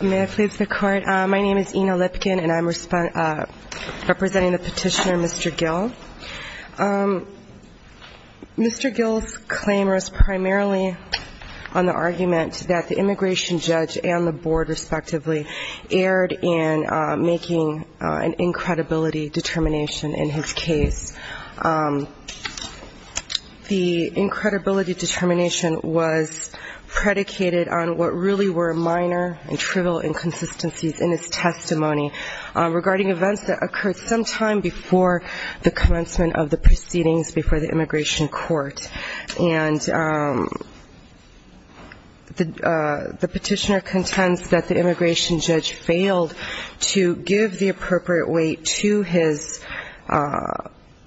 Ms. Lipkin representing the petitioner, Mr. Gill. Mr. Gill's claim was primarily on the argument that the immigration judge and the board respectively erred in making an incredibility determination in his case. The incredibility determination was predicated on what really were minor and trivial inconsistencies in his testimony regarding events that occurred sometime before the commencement of the proceedings before the immigration court. And the petitioner contends that the immigration judge failed to give the appropriate weight to his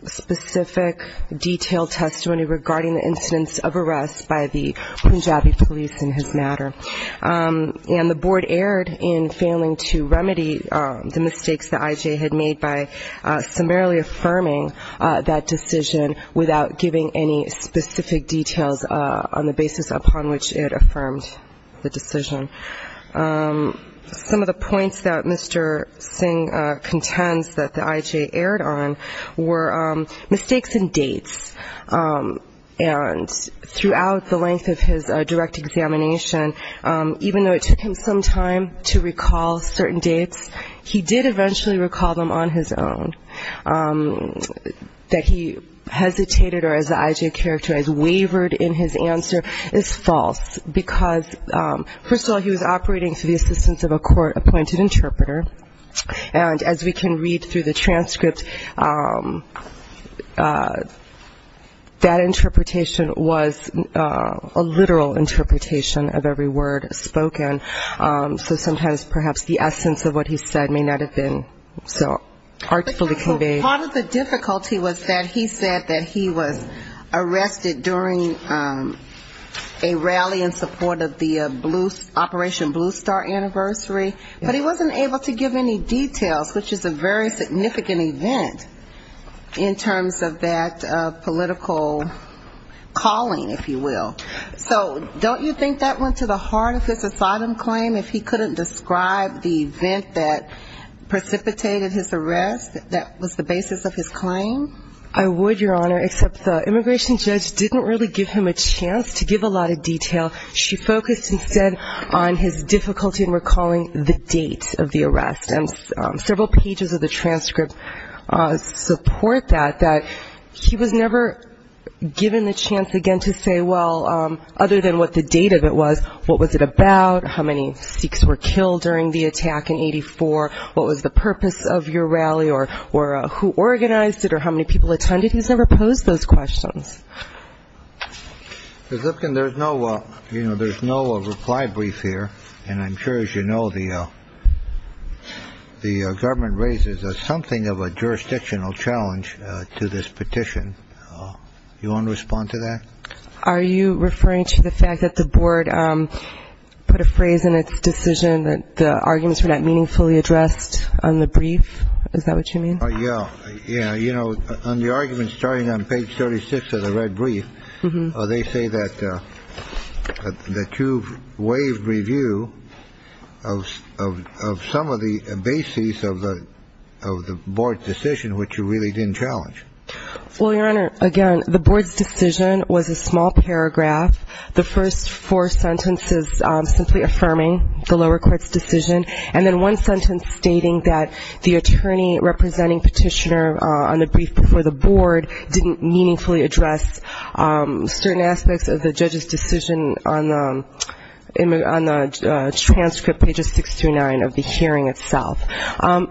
specific, detailed testimony regarding the incidents of arrest by the Punjabi police in his matter. Mr. Gill's claim was primarily on the incidents of arrest by the Punjabi police in his matter. And the board erred in failing to remedy the mistakes the I.J. had made by summarily affirming that decision without giving any specific details on the basis upon which it affirmed the decision. Some of the points that Mr. Singh contends that the I.J. erred on were mistakes in dates. And throughout the length of his direct examination, even though it took a long time to recall certain dates, he did eventually recall them on his own. That he hesitated or, as the I.J. characterized, wavered in his answer is false, because, first of all, he was operating through the assistance of a court-appointed interpreter. And as we can read through the transcript, that interpretation was a literal interpretation of every word spoken. And, as we can see in the transcript, that interpretation was a literal interpretation of every word spoken. So sometimes perhaps the essence of what he said may not have been so artfully conveyed. Part of the difficulty was that he said that he was arrested during a rally in support of the Operation Blue Star anniversary, but he wasn't able to give any details, which is a very significant event in terms of that political calling, if you will. So don't you think that went to the bottom claim, if he couldn't describe the event that precipitated his arrest, that was the basis of his claim? I would, Your Honor, except the immigration judge didn't really give him a chance to give a lot of detail. She focused instead on his difficulty in recalling the date of the arrest. And several pages of the transcript support that, that he was never given the chance again to say, well, other than what the date of it was, what was it about, how many Sikhs were killed during the attack in 84, what was the purpose of your rally, or who organized it, or how many people attended. He's never posed those questions. Mr. Zipkin, there's no reply brief here. And I'm sure, as you know, the government raises something of a jurisdictional challenge to this case. Are you referring to the fact that the board put a phrase in its decision that the arguments were not meaningfully addressed on the brief? Is that what you mean? Yeah. You know, on the argument starting on page 36 of the red brief, they say that the two-wave review of some of the bases of the board's decision, which you really didn't challenge. Well, Your Honor, again, the board's decision was a small paragraph. The first four sentences simply affirming the lower court's decision, and then one sentence stating that the attorney representing petitioner on the brief before the board didn't meaningfully address certain aspects of the judge's decision on the transcript, pages 6-9 of the hearing itself.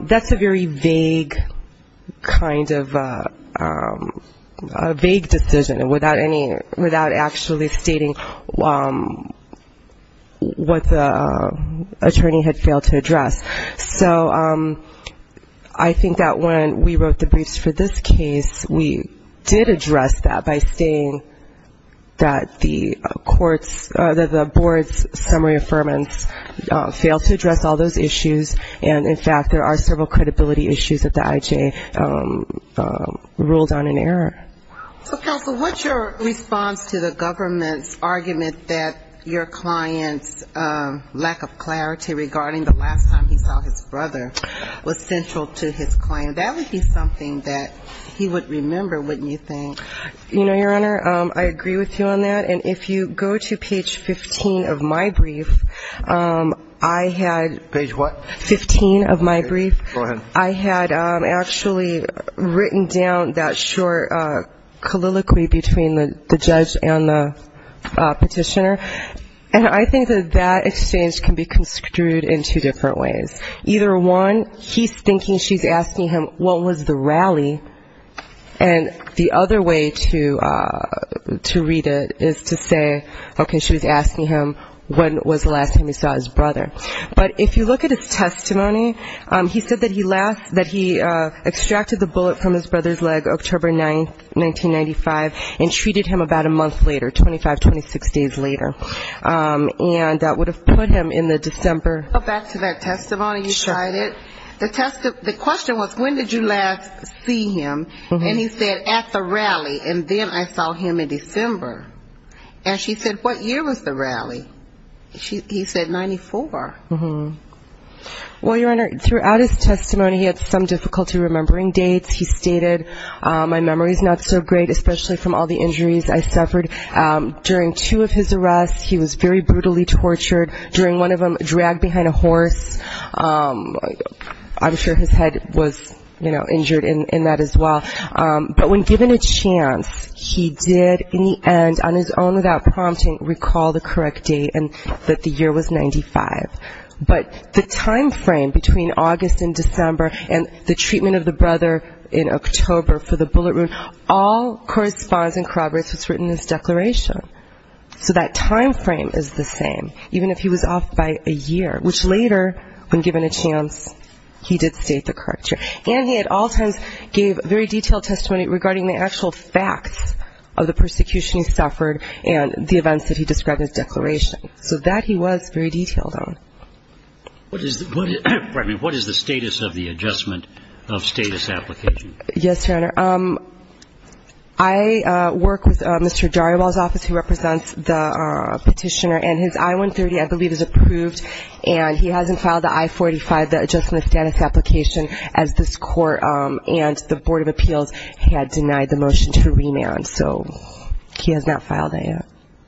That's a very vague kind of argument. And without actually stating what the attorney had failed to address. So, I think that when we wrote the briefs for this case, we did address that by saying that the court's, the board's summary affirmance failed to address all those issues, and, in fact, there are several credibility issues that the IJ reviewed, and we did address those as well. And we ruled on an error. So, counsel, what's your response to the government's argument that your client's lack of clarity regarding the last time he saw his brother was central to his claim? That would be something that he would remember, wouldn't you think? You know, Your Honor, I agree with you on that. And if you go to page 15 of my brief, I had. Page what? Fifteen of my brief. Go ahead. I had actually written down that short colloquy between the judge and the petitioner, and I think that that exchange can be construed in two different ways. Either one, he's thinking she's asking him what was the rally, and the other way to read it is to say, okay, she was asking him when was the last time he saw his brother. But if you look at his testimony, he said that he extracted the bullet from his brother's leg October 9, 1995, and treated him about a month later, 25, 26 days later. And that would have put him in the December. Go back to that testimony you cited. Sure. The question was when did you last see him, and he said at the rally, and then I saw him in December. And she said what year was the rally? He said 94. Well, Your Honor, throughout his testimony he had some difficulty remembering dates. He stated my memory is not so great, especially from all the injuries I suffered. During two of his arrests, he was very brutally tortured. During one of them, dragged behind a horse. I'm sure his head was, you know, injured in that as well. But when given a chance, he did in the end, on his own without prompting, recall the correct date and that the year was 95. But the time frame between August and December and the treatment of the brother in October for the bullet wound all corresponds and corroborates what's written in his declaration. So that time frame is the same, even if he was off by a year, which later, when given a chance, he did state the correct year. And he at all times gave very detailed testimony regarding the actual facts of the persecution he suffered So that he was very detailed on. What is the status of the adjustment of status application? Yes, Your Honor. I work with Mr. Dariwal's office, who represents the petitioner. And his I-130, I believe, is approved. And he hasn't filed the I-45, the adjustment of status application, as this Court and the Board of Appeals had denied the motion to remand. So he has not filed that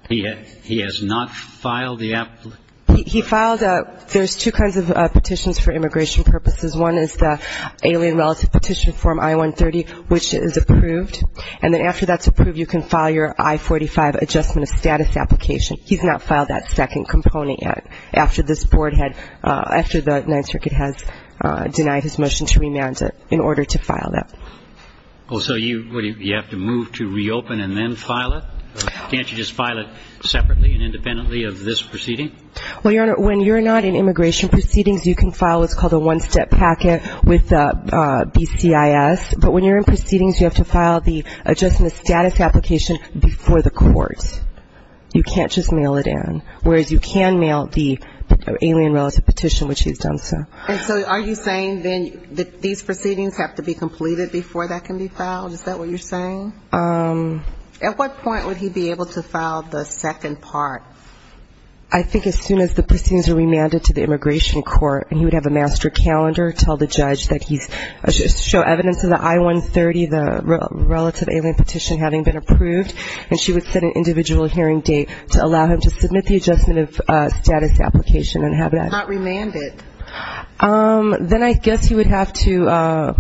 yet. He has not filed the application? He filed a – there's two kinds of petitions for immigration purposes. One is the alien relative petition form I-130, which is approved. And then after that's approved, you can file your I-45 adjustment of status application. He's not filed that second component yet, after this Board had – after the Ninth Circuit has denied his motion to remand it, in order to file that. Oh, so you have to move to reopen and then file it? Can't you just file it separately and independently of this proceeding? Well, Your Honor, when you're not in immigration proceedings, you can file what's called a one-step packet with the BCIS. But when you're in proceedings, you have to file the adjustment of status application before the court. You can't just mail it in. Whereas you can mail the alien relative petition, which he's done so. And so are you saying then that these proceedings have to be completed before that can be filed? Is that what you're saying? At what point would he be able to file the second part? I think as soon as the proceedings are remanded to the immigration court, and he would have a master calendar tell the judge that he's – show evidence of the I-130, the relative alien petition having been approved, and she would set an individual hearing date to allow him to submit the adjustment of status application and have that – Not remanded. Then I guess he would have to,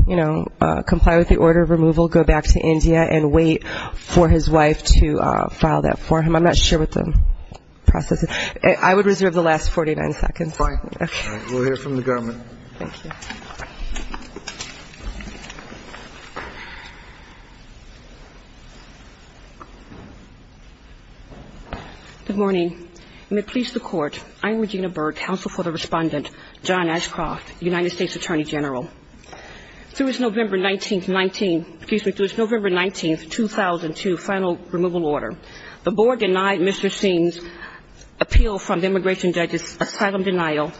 you know, comply with the order of removal, go back to India and wait for his wife to file that for him. I'm not sure what the process is. I would reserve the last 49 seconds. Fine. We'll hear from the government. Thank you. Good morning. And may it please the Court, I'm Regina Berg, Counsel for the Respondent, John Ashcroft, United States Attorney General. Through its November 19th – excuse me – through its November 19th, 2002, final removal order, the Board denied Mr. Singh's appeal from the immigration judge's asylum denial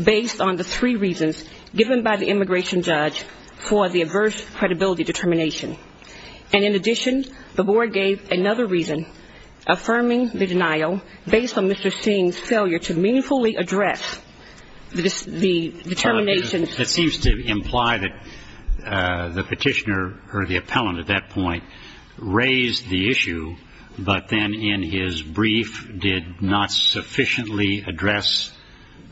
based on the three reasons given by the immigration judge for the adverse credibility determination. And in addition, the Board gave another reason, affirming the denial based on Mr. Singh's failure to meaningfully address the determination – That seems to imply that the petitioner or the appellant at that point raised the issue, but then in his brief did not sufficiently address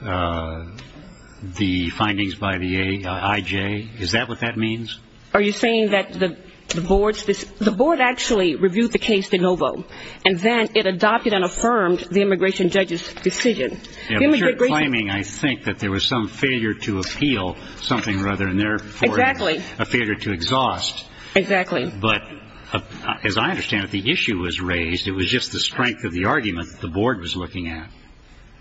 the findings by the IJ. Is that what that means? Are you saying that the Board's – the Board actually reviewed the case de novo, and then it adopted and affirmed the immigration judge's decision? Yeah, but you're claiming, I think, that there was some failure to appeal something rather than therefore – Exactly. – a failure to exhaust. Exactly. But as I understand it, the issue was raised. It was just the strength of the argument that the Board was looking at.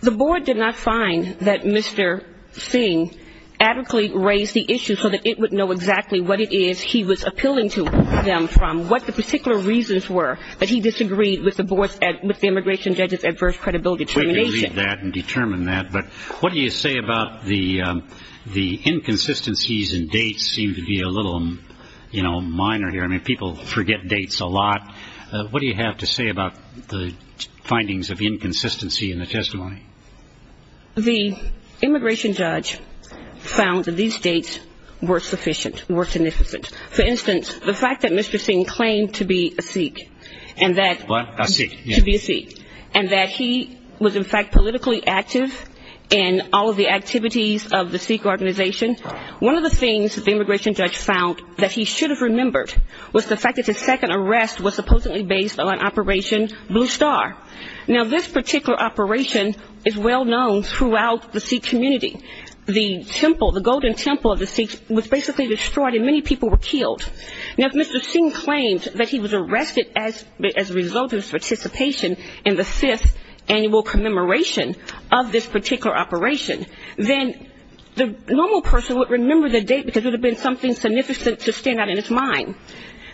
The Board did not find that Mr. Singh adequately raised the issue so that it would know exactly what it is he was appealing to them from, what the particular reasons were that he disagreed with the Board's – with the immigration judge's adverse credibility determination. We can read that and determine that, but what do you say about the inconsistencies in dates seem to be a little, you know, minor here. I mean, people forget dates a lot. What do you have to say about the findings of inconsistency in the testimony? The immigration judge found that these dates were sufficient, were significant. For instance, the fact that Mr. Singh claimed to be a Sikh and that – What? A Sikh, yes. – to be a Sikh and that he was, in fact, politically active in all of the activities of the Sikh organization, one of the things that the immigration judge found that he should have remembered was the fact that his second arrest was supposedly based on Operation Blue Star. Now, this particular operation is well known throughout the Sikh community. The temple, the golden temple of the Sikhs was basically destroyed and many people were killed. Now, if Mr. Singh claimed that he was arrested as a result of his participation in the fifth annual commemoration of this particular operation, then the normal person would remember the date because it would have been something significant to stand out in his mind.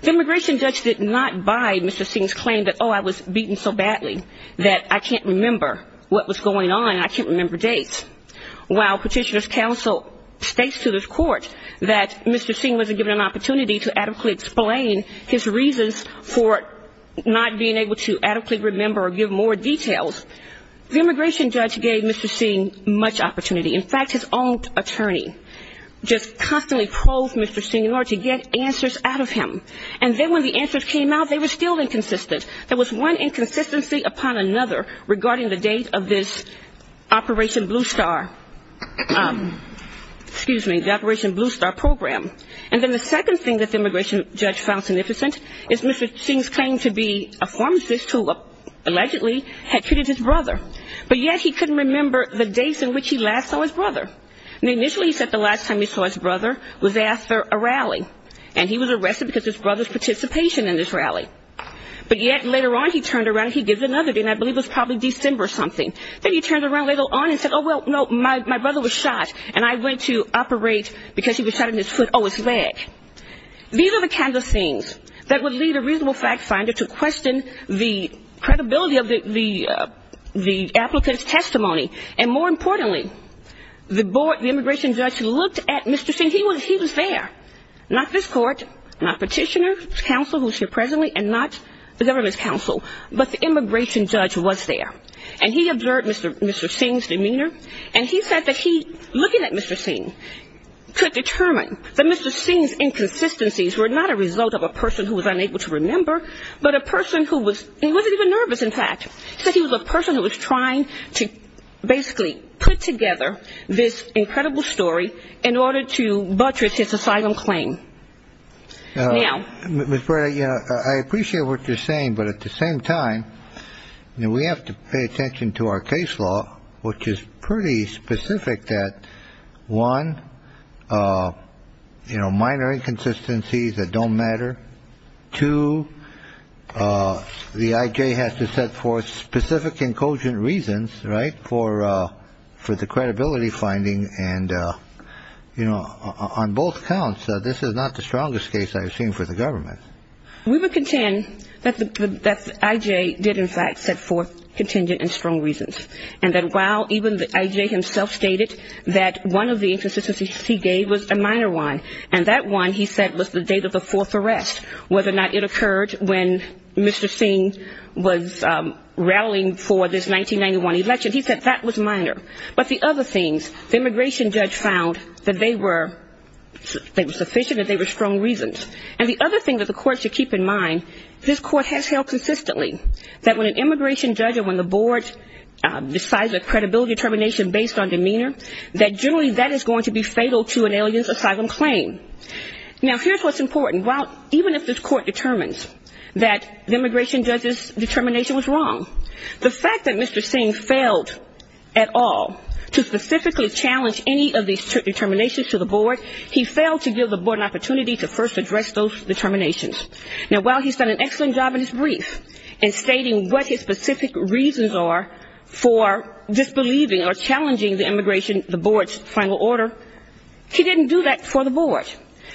The immigration judge did not buy Mr. Singh's claim that, oh, I was beaten so badly that I can't remember what was going on and I can't remember dates. While petitioner's counsel states to the court that Mr. Singh wasn't given an opportunity to adequately explain his reasons for not being able to adequately remember or give more details, the immigration judge gave Mr. Singh much opportunity. In fact, his own attorney just constantly polled Mr. Singh in order to get answers out of him. And then when the answers came out, they were still inconsistent. There was one inconsistency upon another regarding the date of this Operation Blue Star program. And then the second thing that the immigration judge found significant is Mr. Singh's claim to be a pharmacist who allegedly had treated his brother, but yet he couldn't remember the dates in which he last saw his brother. And initially he said the last time he saw his brother was after a rally, and he was arrested because of his brother's participation in this rally. But yet later on he turned around and he gives another date, and I believe it was probably December or something. Then he turned around later on and said, oh, well, no, my brother was shot, and I went to operate because he was shot in his foot. Oh, it's vague. These are the kinds of things that would lead a reasonable fact finder to question the credibility of the applicant's testimony. And more importantly, the immigration judge looked at Mr. Singh. He was there. Not this court, not petitioner's counsel who's here presently, and not the government's counsel, but the immigration judge was there. And he observed Mr. Singh's demeanor, and he said that he, looking at Mr. Singh, could determine that Mr. Singh's inconsistencies were not a result of a person who was unable to remember, but a person who was he wasn't even nervous, in fact. He said he was a person who was trying to basically put together this incredible story in order to buttress his asylum claim. Now, Ms. Breda, I appreciate what you're saying, but at the same time, we have to pay attention to our case law, which is pretty specific that, one, minor inconsistencies that don't matter. Two, the IJ has to set forth specific and cogent reasons, right, for the credibility finding. And, you know, on both counts, this is not the strongest case I've seen for the government. We would contend that the IJ did, in fact, set forth contingent and strong reasons, and that while even the IJ himself stated that one of the inconsistencies he gave was a minor one, and that one, he said, was the date of the fourth arrest, whether or not it occurred when Mr. Singh was rallying for this 1991 election. He said that was minor, but the other things, the immigration judge found that they were sufficient and they were strong reasons. And the other thing that the court should keep in mind, this court has held consistently that when an immigration judge or when the board decides a credibility determination based on demeanor, that generally that is going to be fatal to an alien's asylum claim. Now, here's what's important. While even if this court determines that the immigration judge's determination was wrong, the fact that Mr. Singh failed at all to specifically challenge any of these determinations to the board, he failed to give the board an opportunity to first address those determinations. Now, while he's done an excellent job in his brief in stating what his specific reasons are for disbelieving or challenging the immigration, the board's final order, he didn't do that for the board.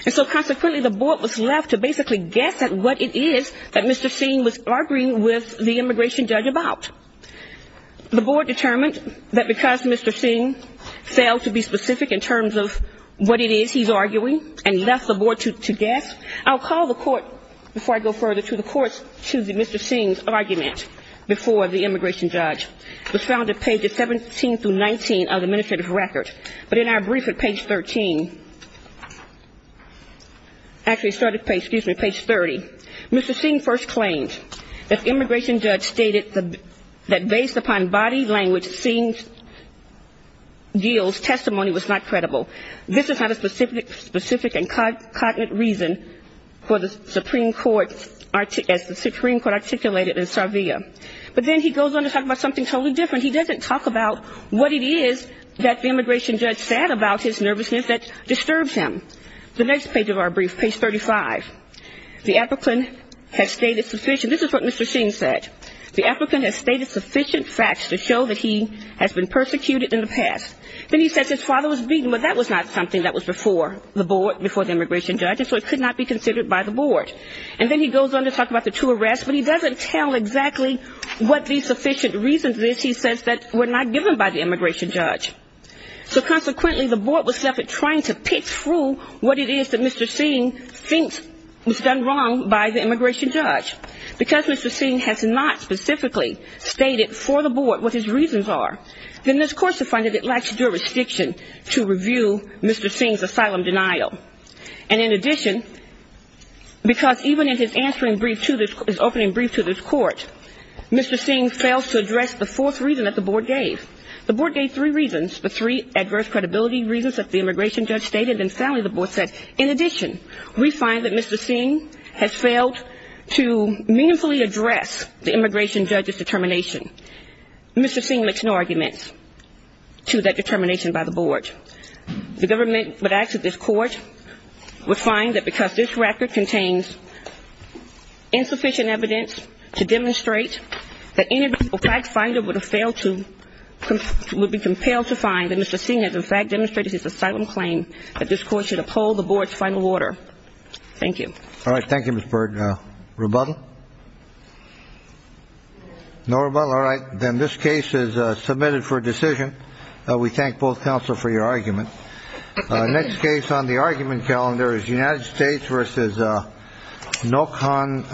And so consequently the board was left to basically guess at what it is that Mr. Singh was arguing with the immigration judge about. The board determined that because Mr. Singh failed to be specific in terms of what it is he's arguing and left the board to guess, I'll call the court, before I go further to the courts, to Mr. Singh's argument before the immigration judge. It was found at pages 17 through 19 of the administrative record, but in our brief at page 13, excuse me, page 30, Mr. Singh first claimed that the immigration judge stated that based upon body language, Singh's testimony was not credible. This is not a specific and cognate reason for the Supreme Court as the Supreme Court articulated in Sarvia, but then he goes on to talk about something totally different. He doesn't talk about what it is that the immigration judge said about his nervousness that disturbs him. The next page of our brief, page 35, the applicant has stated sufficient, this is what Mr. Singh said, the applicant has stated sufficient facts to show that he has been persecuted in the past. Then he says his father was beaten, but that was not something that was before the board, before the immigration judge, so it could not be considered by the board. And then he goes on to talk about the two arrests, but he doesn't tell exactly what the sufficient reasons is. He says that were not given by the immigration judge. So consequently, the board was trying to pitch through what it is that Mr. Singh thinks was done wrong by the immigration judge. Because Mr. Singh has not specifically stated for the board what his reasons are, then this court has found that it lacks jurisdiction to review Mr. Singh's asylum denial. And in addition, because even in his answering brief to this, his opening brief to this court, Mr. Singh fails to address the fourth reason that the board gave. The board gave three reasons, the three adverse credibility reasons that the immigration judge stated, and finally the board said, in addition, we find that Mr. Singh has failed to meaningfully address the immigration judge's determination. Mr. Singh makes no arguments to that determination by the board. The government would ask that this court would find that because this record contains insufficient evidence to demonstrate that any fact finder would have failed to, would be compelled to find that Mr. Singh has in fact demonstrated his asylum claim that this court should uphold the board's final order. Thank you. All right. Thank you, Mr. Burd. Rebuttal? No rebuttal. All right. Then this case is submitted for decision. We thank both counsel for your argument. Next case on the argument calendar is United States versus Nokon Nguyen.